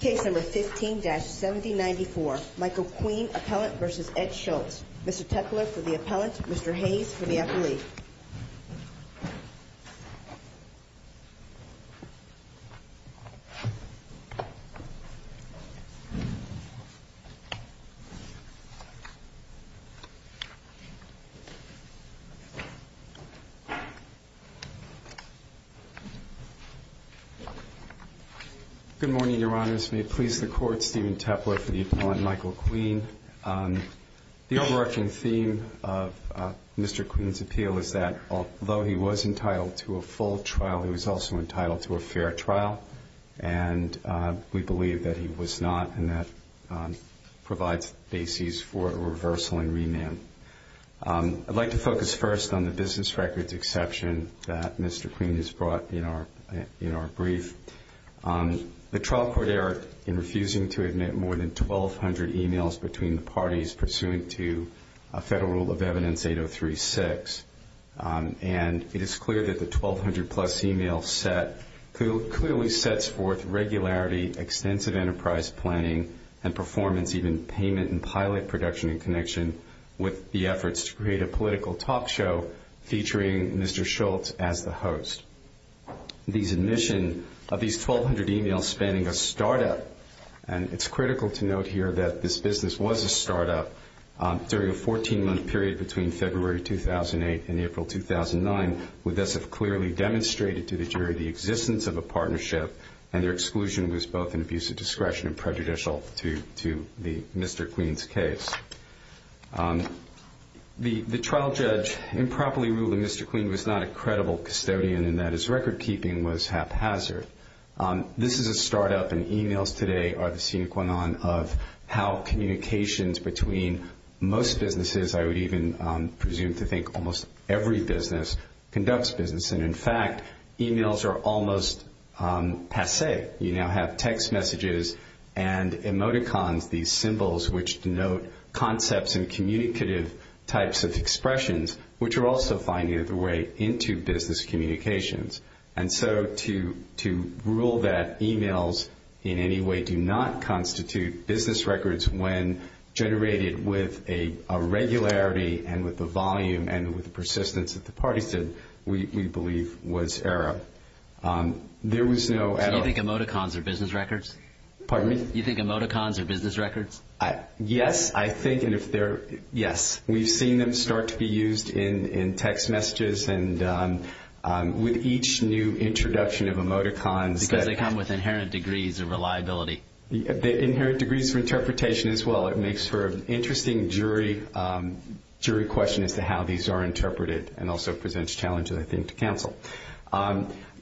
Case No. 15-7094 Michael Queen Appellant v. Ed Schultz Mr. Tepler for the Appellant, Mr. Hayes for the Affiliate Good morning, Your Honors. May it please the Court, Stephen Tepler for the Appellant, Michael Queen. The overarching theme of Mr. Queen's appeal is that although he was entitled to a full trial, he was also entitled to a fair trial. And we believe that he was not, and that provides the basis for a reversal and remand. I'd like to focus first on the business records exception that Mr. Queen has brought in our brief. The trial court error in refusing to admit more than 1,200 emails between the parties pursuant to Federal Rule of Evidence 8036. And it is clear that the 1,200 plus emails clearly sets forth regularity, extensive enterprise planning and performance, even payment and pilot production in connection with the efforts to create a political talk show featuring Mr. Schultz as the host. These admissions of these 1,200 emails spanning a startup, and it's critical to note here that this business was a startup, during a 14-month period between February 2008 and April 2009, would thus have clearly demonstrated to the jury the existence of a partnership and their exclusion was both an abuse of discretion and prejudicial to Mr. Queen's case. The trial judge improperly ruling Mr. Queen was not a credible custodian in that his record keeping was haphazard. This is a startup, and emails today are the sine qua non of how communications between most businesses, I would even presume to think almost every business, conducts business. And in fact, emails are almost passe. You now have text messages and emoticons, these symbols which denote concepts and communicative types of expressions, which are also finding their way into business communications. And so to rule that emails in any way do not constitute business records when generated with a regularity and with the volume and with the persistence that the parties did, we believe was error. There was no error. So you think emoticons are business records? Pardon me? You think emoticons are business records? Yes, I think, and if they're, yes. We've seen them start to be used in text messages and with each new introduction of emoticons. Because they come with inherent degrees of reliability. Inherent degrees of interpretation as well. It makes for an interesting jury question as to how these are interpreted and also presents challenges, I think, to counsel.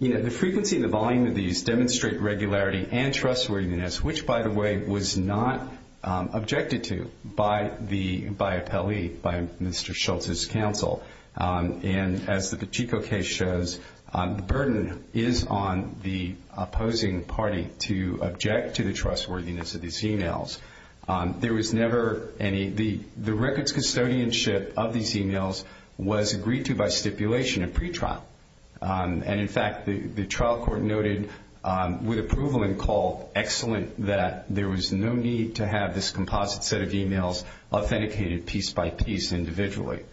You know, the frequency and the volume of these demonstrate regularity and trustworthiness, which, by the way, was not objected to by the appellee, by Mr. Schultz's counsel. And as the Pacheco case shows, the burden is on the opposing party to object to the trustworthiness of these emails. There was never any. The records custodianship of these emails was agreed to by stipulation at pretrial. And, in fact, the trial court noted with approval and call excellent that there was no need to have this composite set of emails authenticated piece by piece individually.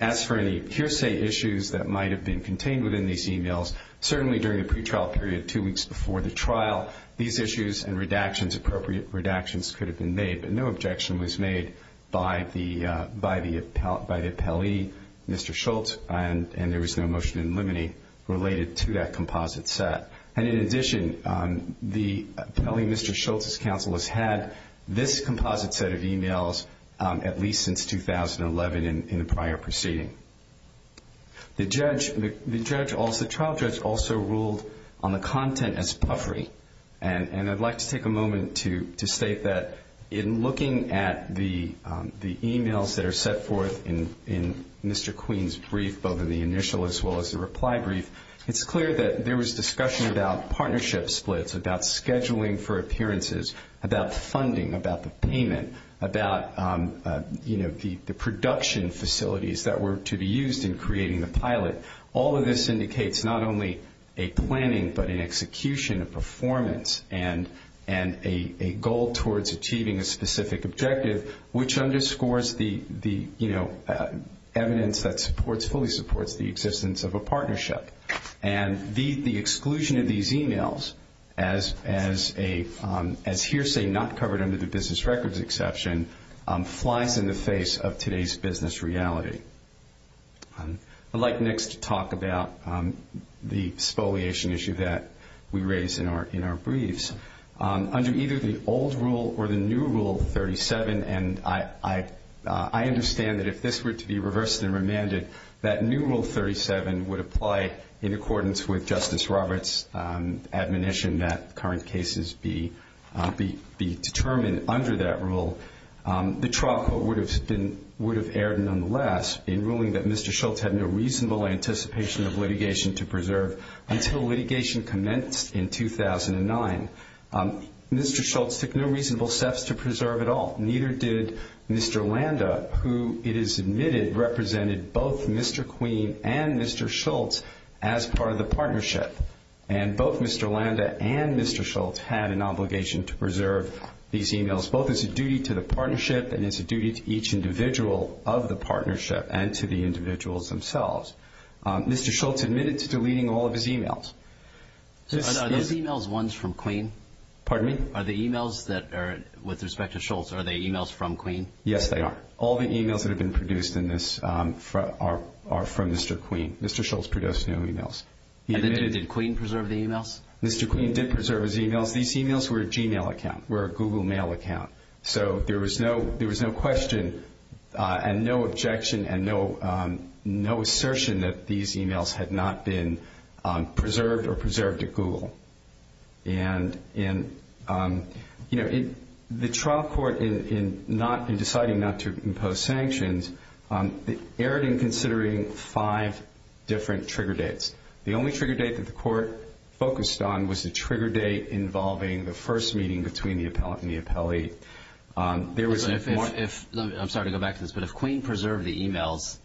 As for any hearsay issues that might have been contained within these emails, certainly during the pretrial period two weeks before the trial, these issues and redactions, appropriate redactions, could have been made, but no objection was made by the appellee, Mr. Schultz, and there was no motion in limine related to that composite set. And, in addition, the appellee, Mr. Schultz's counsel, has had this composite set of emails at least since 2011 in the prior proceeding. The trial judge also ruled on the content as puffery. And I'd like to take a moment to state that in looking at the emails that are set forth in Mr. Queen's brief, both in the initial as well as the reply brief, it's clear that there was discussion about partnership splits, about scheduling for appearances, about funding, about the payment, about the production facilities that were to be used in creating the pilot. All of this indicates not only a planning but an execution, a performance, and a goal towards achieving a specific objective, which underscores the evidence that fully supports the existence of a partnership. And the exclusion of these emails, as hearsay not covered under the business records exception, flies in the face of today's business reality. I'd like next to talk about the spoliation issue that we raised in our briefs. Under either the old rule or the new Rule 37, and I understand that if this were to be reversed and remanded, that new Rule 37 would apply in accordance with Justice Roberts' admonition that current cases be determined under that rule. The trial court would have erred nonetheless in ruling that Mr. Schultz had no reasonable anticipation of litigation to preserve until litigation commenced in 2009. Mr. Schultz took no reasonable steps to preserve at all, neither did Mr. Landa, who it is admitted represented both Mr. Queen and Mr. Schultz as part of the partnership. And both Mr. Landa and Mr. Schultz had an obligation to preserve these emails, both as a duty to the partnership and as a duty to each individual of the partnership and to the individuals themselves. Mr. Schultz admitted to deleting all of his emails. Are those emails ones from Queen? Pardon me? Are the emails that are with respect to Schultz, are they emails from Queen? Yes, they are. All the emails that have been produced in this are from Mr. Queen. Mr. Schultz produced no emails. And did Queen preserve the emails? Mr. Queen did preserve his emails. These emails were a Gmail account, were a Google Mail account. So there was no question and no objection and no assertion that these emails had not been preserved or preserved at Google. And, you know, the trial court in deciding not to impose sanctions erred in considering five different trigger dates. The only trigger date that the court focused on was the trigger date involving the first meeting between the appellate and the appellee. I'm sorry to go back to this, but if Queen preserved the emails,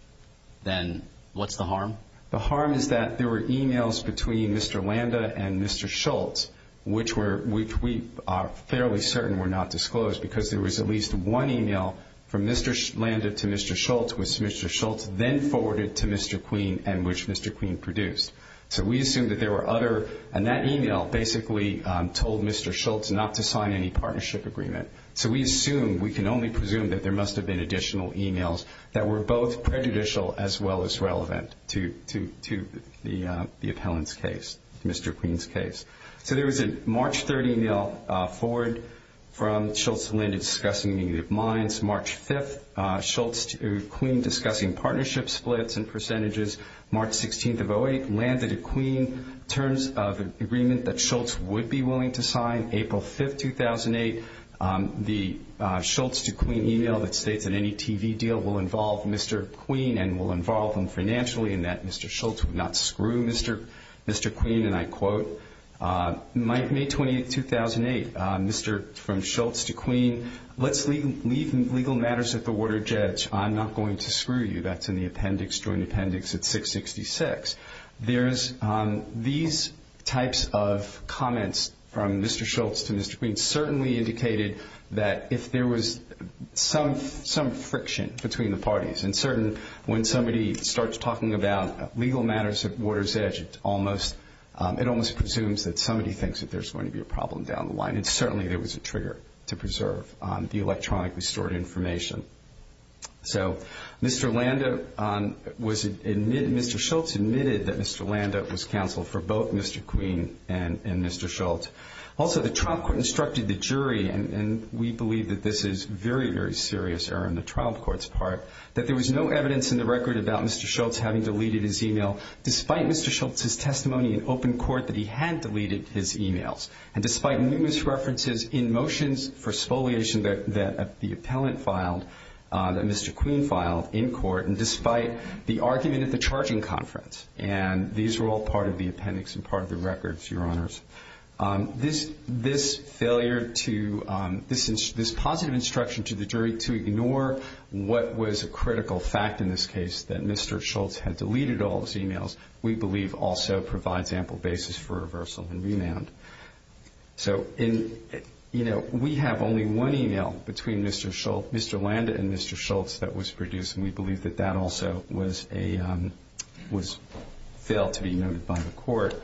then what's the harm? The harm is that there were emails between Mr. Landa and Mr. Schultz which we are fairly certain were not disclosed because there was at least one email from Mr. Landa to Mr. Schultz, which Mr. Schultz then forwarded to Mr. Queen and which Mr. Queen produced. So we assume that there were other, and that email basically told Mr. Schultz not to sign any partnership agreement. So we assume, we can only presume that there must have been additional emails that were both prejudicial as well as relevant to the appellant's case, Mr. Queen's case. So there was a March 3rd email forward from Schultz to Landa discussing negative minds. March 5th, Schultz to Queen discussing partnership splits and percentages. March 16th of 08 landed to Queen terms of agreement that Schultz would be willing to sign. April 5th, 2008, the Schultz to Queen email that states that any TV deal will involve Mr. Queen and will involve him financially and that Mr. Schultz would not screw Mr. Queen, and I quote, May 28th, 2008, from Schultz to Queen, let's leave legal matters at the water, Judge. I'm not going to screw you. That's in the appendix, joint appendix at 666. These types of comments from Mr. Schultz to Mr. Queen certainly indicated that if there was some friction between the parties and certainly when somebody starts talking about legal matters at water's edge, it almost presumes that somebody thinks that there's going to be a problem down the line and certainly there was a trigger to preserve the electronically stored information. So Mr. Landa was, Mr. Schultz admitted that Mr. Landa was counsel for both Mr. Queen and Mr. Schultz. Also, the trial court instructed the jury, and we believe that this is very, very serious error in the trial court's part, that there was no evidence in the record about Mr. Schultz having deleted his email despite Mr. Schultz's testimony in open court that he had deleted his emails and despite numerous references in motions for spoliation that the appellant filed, that Mr. Queen filed in court, and despite the argument at the charging conference. And these were all part of the appendix and part of the records, Your Honors. This failure to, this positive instruction to the jury to ignore what was a critical fact in this case, that Mr. Schultz had deleted all his emails, we believe also provides ample basis for reversal and remand. So we have only one email between Mr. Landa and Mr. Schultz that was produced, and we believe that that also was failed to be noted by the court.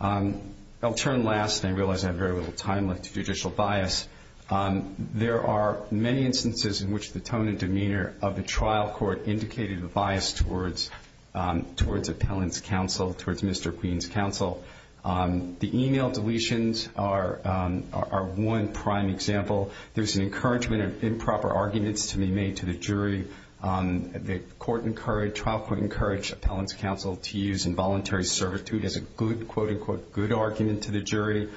I'll turn last, and I realize I have very little time left, to judicial bias. There are many instances in which the tone and demeanor of the trial court indicated a bias towards appellant's counsel, towards Mr. Queen's counsel. The email deletions are one prime example. There's an encouragement of improper arguments to be made to the jury. The trial court encouraged appellant's counsel to use involuntary servitude as a good, quote-unquote, good argument to the jury,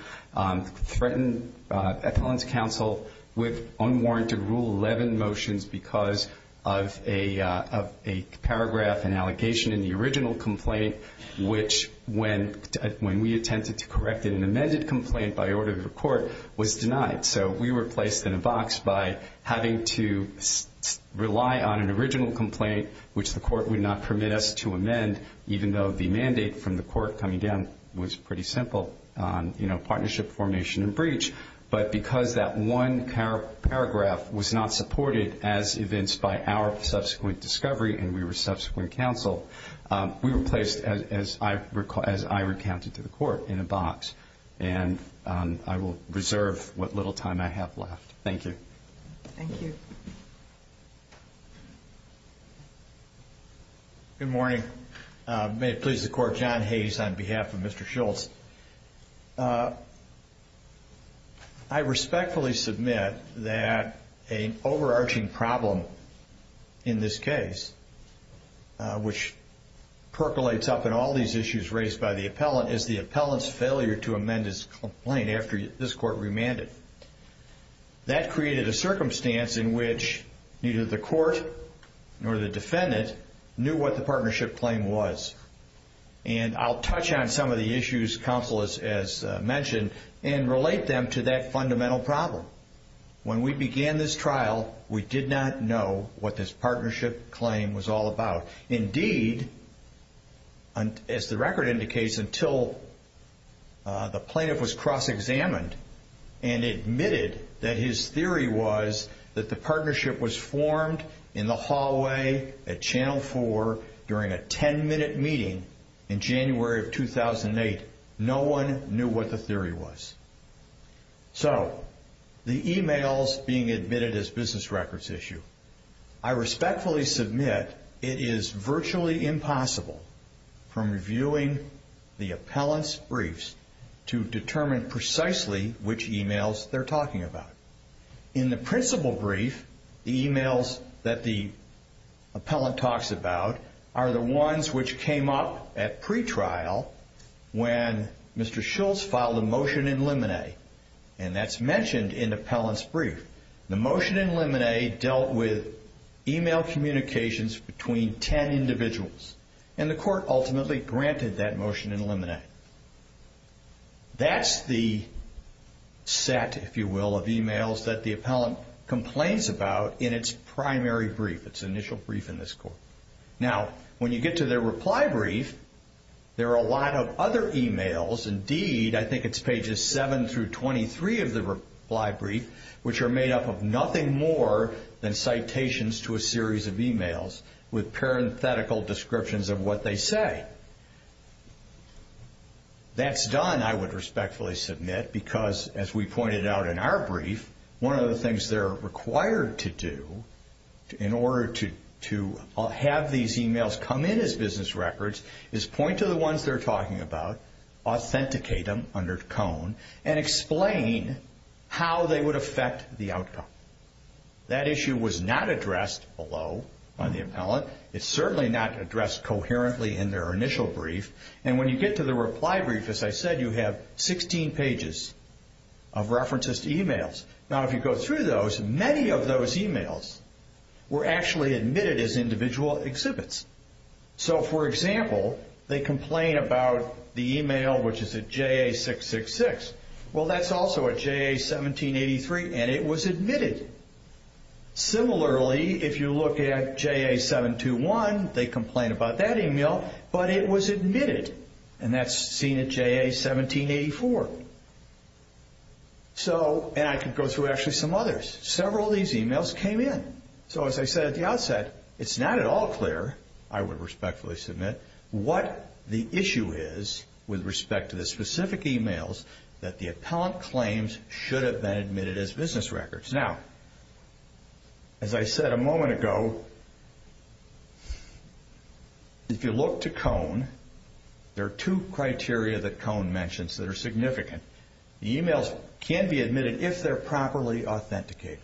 threatened appellant's counsel with unwarranted Rule 11 motions because of a paragraph and allegation in the original complaint, which when we attempted to correct it in an amended complaint by order of the court, was denied. So we were placed in a box by having to rely on an original complaint, which the court would not permit us to amend, even though the mandate from the court coming down was pretty simple, you know, partnership, formation, and breach. But because that one paragraph was not supported as evinced by our subsequent discovery and we were subsequent counsel, we were placed, as I recounted to the court, in a box. And I will reserve what little time I have left. Thank you. Thank you. Good morning. May it please the Court, John Hayes on behalf of Mr. Schultz. I respectfully submit that an overarching problem in this case, which percolates up in all these issues raised by the appellant, is the appellant's failure to amend his complaint after this court remanded. That created a circumstance in which neither the court nor the defendant knew what the partnership claim was. And I'll touch on some of the issues counsel has mentioned and relate them to that fundamental problem. When we began this trial, we did not know what this partnership claim was all about. Indeed, as the record indicates, until the plaintiff was cross-examined and admitted that his theory was that the partnership was formed in the hallway at Channel 4 during a 10-minute meeting in January of 2008, no one knew what the theory was. So, the emails being admitted as business records issue, I respectfully submit it is virtually impossible from reviewing the appellant's briefs to determine precisely which emails they're talking about. In the principal brief, the emails that the appellant talks about are the ones which came up at pretrial when Mr. Schultz filed a motion in limine. And that's mentioned in the appellant's brief. The motion in limine dealt with email communications between 10 individuals. And the court ultimately granted that motion in limine. That's the set, if you will, of emails that the appellant complains about in its primary brief, its initial brief in this court. Now, when you get to their reply brief, there are a lot of other emails. Indeed, I think it's pages 7 through 23 of the reply brief, which are made up of nothing more than citations to a series of emails with parenthetical descriptions of what they say. That's done, I would respectfully submit, because, as we pointed out in our brief, one of the things they're required to do in order to have these emails come in as business records is point to the ones they're talking about, authenticate them under cone, and explain how they would affect the outcome. That issue was not addressed below by the appellant. It's certainly not addressed coherently in their initial brief. And when you get to the reply brief, as I said, you have 16 pages of references to emails. Now, if you go through those, many of those emails were actually admitted as individual exhibits. So, for example, they complain about the email which is a JA666. Well, that's also a JA1783, and it was admitted. Similarly, if you look at JA721, they complain about that email, but it was admitted, and that's seen at JA1784. And I could go through actually some others. Several of these emails came in. So, as I said at the outset, it's not at all clear, I would respectfully submit, what the issue is with respect to the specific emails that the appellant claims should have been admitted as business records. Now, as I said a moment ago, if you look to cone, there are two criteria that cone mentions that are significant. The emails can be admitted if they're properly authenticated.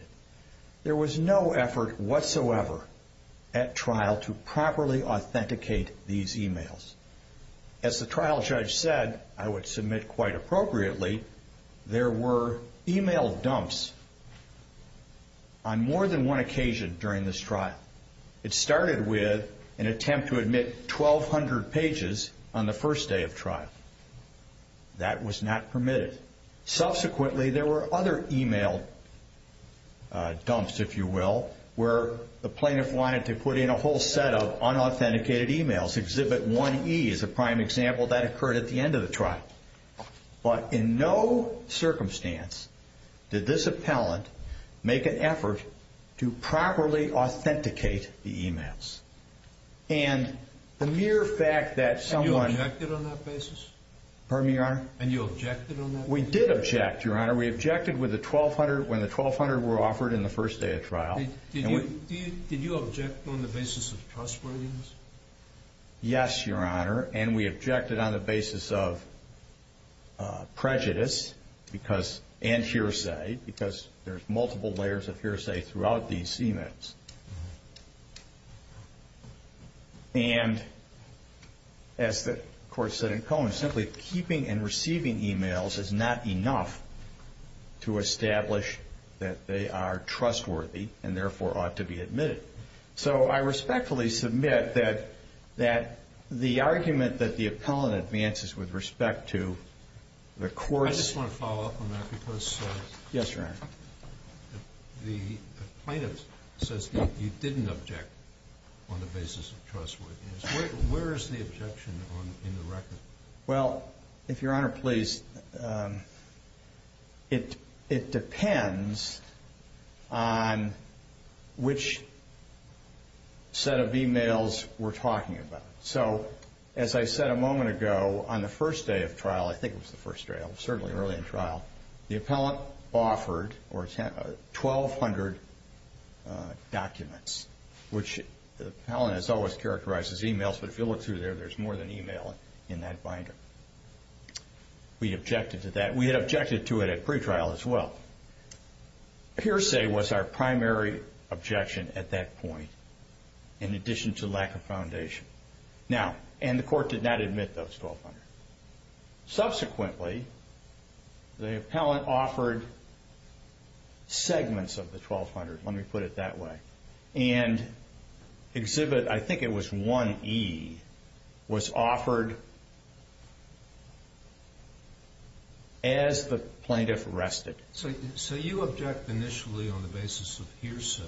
There was no effort whatsoever at trial to properly authenticate these emails. As the trial judge said, I would submit quite appropriately, there were email dumps on more than one occasion during this trial. It started with an attempt to admit 1,200 pages on the first day of trial. That was not permitted. Subsequently, there were other email dumps, if you will, where the plaintiff wanted to put in a whole set of unauthenticated emails. Exhibit 1E is a prime example. That occurred at the end of the trial. But in no circumstance did this appellant make an effort to properly authenticate the emails. And the mere fact that someone- Pardon me, Your Honor? And you objected on that? We did object, Your Honor. We objected when the 1,200 were offered in the first day of trial. Did you object on the basis of trustworthiness? Yes, Your Honor, and we objected on the basis of prejudice and hearsay because there's multiple layers of hearsay throughout these emails. And as the court said in Cohen, simply keeping and receiving emails is not enough to establish that they are trustworthy and therefore ought to be admitted. So I respectfully submit that the argument that the appellant advances with respect to the court's- I just want to follow up on that because- Yes, Your Honor. The plaintiff says that you didn't object on the basis of trustworthiness. Where is the objection in the record? Well, if Your Honor please, it depends on which set of emails we're talking about. So as I said a moment ago, on the first day of trial- I think it was the first day, certainly early in trial- the appellant offered 1,200 documents, which the appellant has always characterized as emails, but if you look through there, there's more than email in that binder. We objected to that. We had objected to it at pretrial as well. Hearsay was our primary objection at that point in addition to lack of foundation. Now, and the court did not admit those 1,200. Subsequently, the appellant offered segments of the 1,200. Let me put it that way. And Exhibit, I think it was 1E, was offered as the plaintiff rested. So you object initially on the basis of hearsay,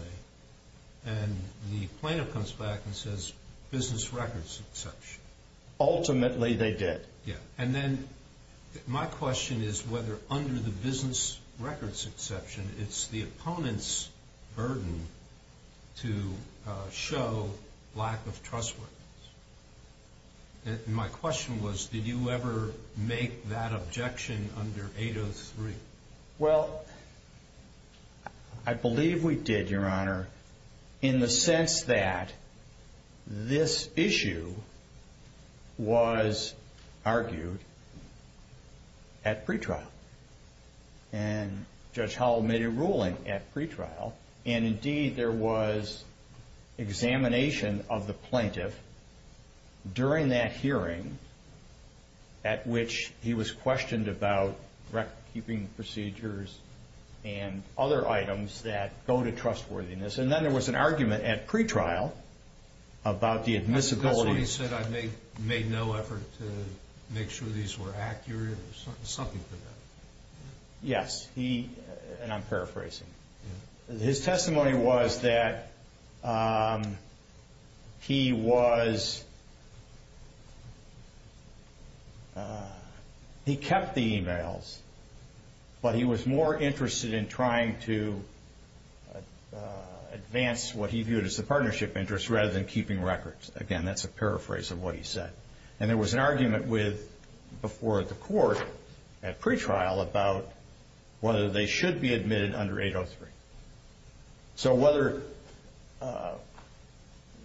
and the plaintiff comes back and says business records exception. Ultimately, they did. Yeah, and then my question is whether under the business records exception, it's the opponent's burden to show lack of trustworthiness. And my question was, did you ever make that objection under 803? Well, I believe we did, Your Honor, in the sense that this issue was argued at pretrial. And Judge Howell made a ruling at pretrial, and indeed there was examination of the plaintiff during that hearing at which he was questioned about record-keeping procedures and other items that go to trustworthiness. And then there was an argument at pretrial about the admissibility. That's why he said I made no effort to make sure these were accurate. There was something to that. Yes, and I'm paraphrasing. His testimony was that he kept the emails, but he was more interested in trying to advance what he viewed as a partnership interest rather than keeping records. Again, that's a paraphrase of what he said. And there was an argument before the court at pretrial about whether they should be admitted under 803. So whether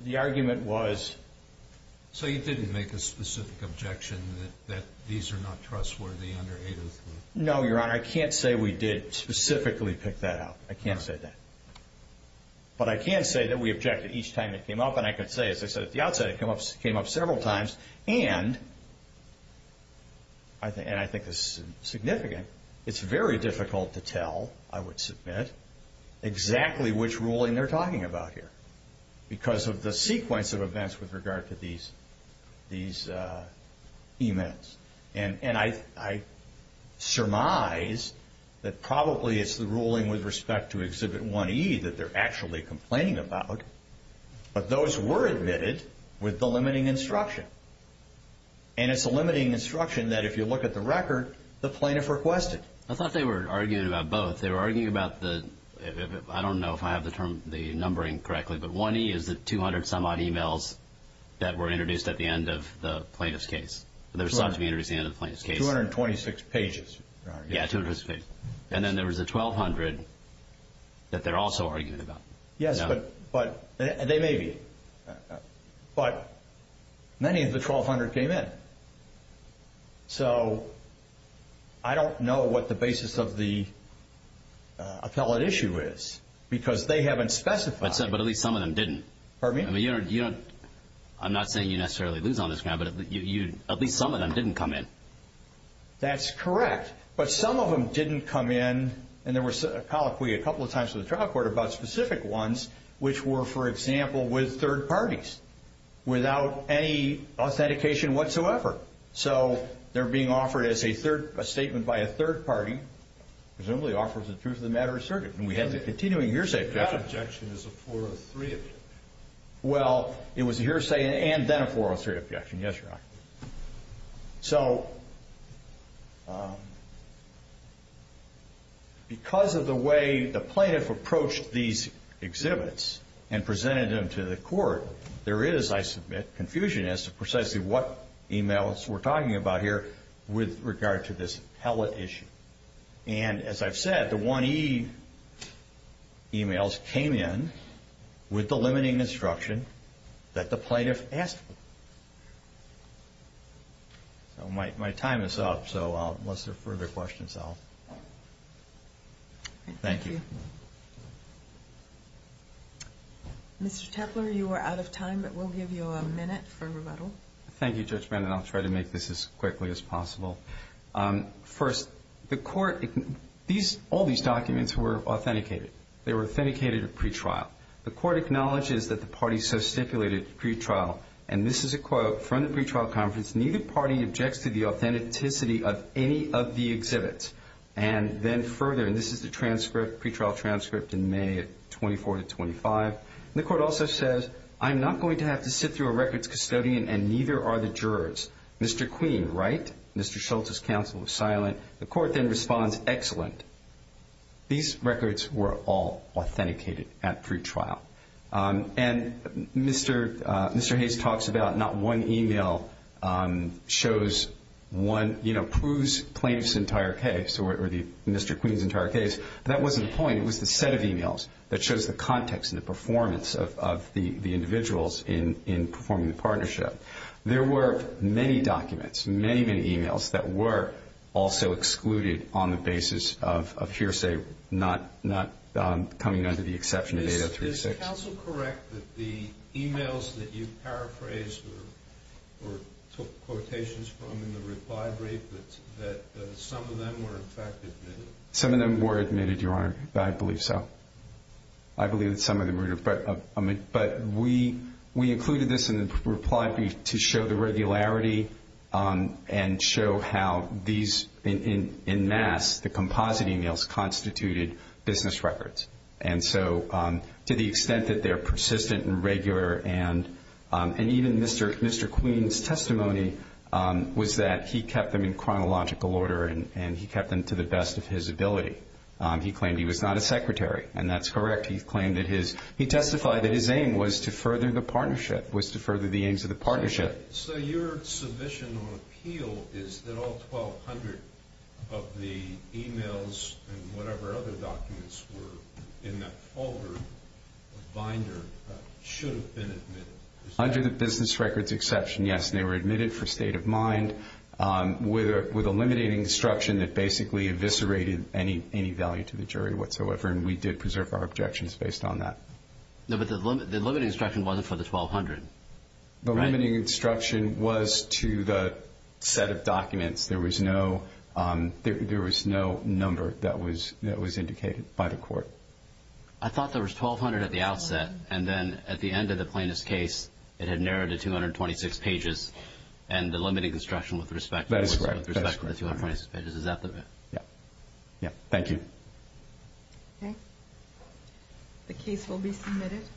the argument was... So you didn't make a specific objection that these are not trustworthy under 803? No, Your Honor, I can't say we did specifically pick that out. I can't say that. But I can say that we objected each time it came up, and I can say, as I said at the outset, it came up several times. And I think this is significant. It's very difficult to tell, I would submit, exactly which ruling they're talking about here because of the sequence of events with regard to these emails. And I surmise that probably it's the ruling with respect to Exhibit 1E that they're actually complaining about, but those were admitted with the limiting instruction. And it's a limiting instruction that if you look at the record, the plaintiff requested. I thought they were arguing about both. They were arguing about the... I don't know if I have the numbering correctly, but 1E is the 200-some-odd emails that were introduced at the end of the plaintiff's case. They were supposed to be introduced at the end of the plaintiff's case. 226 pages, Your Honor. Yeah, 226 pages. And then there was the 1,200 that they're also arguing about. Yes, but they may be. But many of the 1,200 came in. So I don't know what the basis of the appellate issue is because they haven't specified. But at least some of them didn't. Pardon me? I'm not saying you necessarily lose on this, but at least some of them didn't come in. That's correct. But some of them didn't come in, and there was a colloquy a couple of times to the trial court about specific ones, which were, for example, with third parties without any authentication whatsoever. So they're being offered as a statement by a third party, presumably offers the truth of the matter asserted. And we had the continuing hearsay objection. That objection is a 403. Well, it was a hearsay and then a 403 objection. Yes, Your Honor. So because of the way the plaintiff approached these exhibits and presented them to the court, there is, I submit, confusion as to precisely what emails we're talking about here with regard to this appellate issue. And as I've said, the 1E emails came in with the limiting instruction that the plaintiff asked for. My time is up, so unless there are further questions, I'll... Thank you. Mr. Tepler, you are out of time, but we'll give you a minute for rebuttal. Thank you, Judge Bannon. I'll try to make this as quickly as possible. First, the court, all these documents were authenticated. They were authenticated at pretrial. The court acknowledges that the party so stipulated pretrial, and this is a quote from the pretrial conference, neither party objects to the authenticity of any of the exhibits. And then further, and this is the transcript, pretrial transcript in May of 24 to 25, the court also says, I'm not going to have to sit through a records custodian, and neither are the jurors. Mr. Queen, right? Mr. Schultz's counsel was silent. The court then responds, excellent. These records were all authenticated at pretrial. And Mr. Hayes talks about not one email shows one, you know, proves plaintiff's entire case or Mr. Queen's entire case. That wasn't the point. It was the set of emails that shows the context and the performance of the individuals in performing the partnership. There were many documents, many, many emails, that were also excluded on the basis of hearsay, not coming under the exception of 8036. Is counsel correct that the emails that you paraphrased or took quotations from in the reply brief, that some of them were in fact admitted? Some of them were admitted, Your Honor. I believe so. I believe that some of them were admitted. But we included this in the reply brief to show the regularity and show how these, in mass, the composite emails constituted business records. And so to the extent that they're persistent and regular and even Mr. Queen's testimony was that he kept them in chronological order and he kept them to the best of his ability. He claimed he was not a secretary, and that's correct. He testified that his aim was to further the partnership, was to further the aims of the partnership. Okay. So your submission or appeal is that all 1,200 of the emails and whatever other documents were in that folder, binder, should have been admitted? Under the business records exception, yes, and they were admitted for state of mind with a limiting instruction that basically eviscerated any value to the jury whatsoever, and we did preserve our objections based on that. No, but the limiting instruction wasn't for the 1,200, right? The limiting instruction was to the set of documents. There was no number that was indicated by the court. I thought there was 1,200 at the outset, and then at the end of the plaintiff's case it had narrowed to 226 pages, and the limiting instruction with respect to the 226 pages, is that correct? Yes. Yes. Thank you. Okay. The case will be submitted.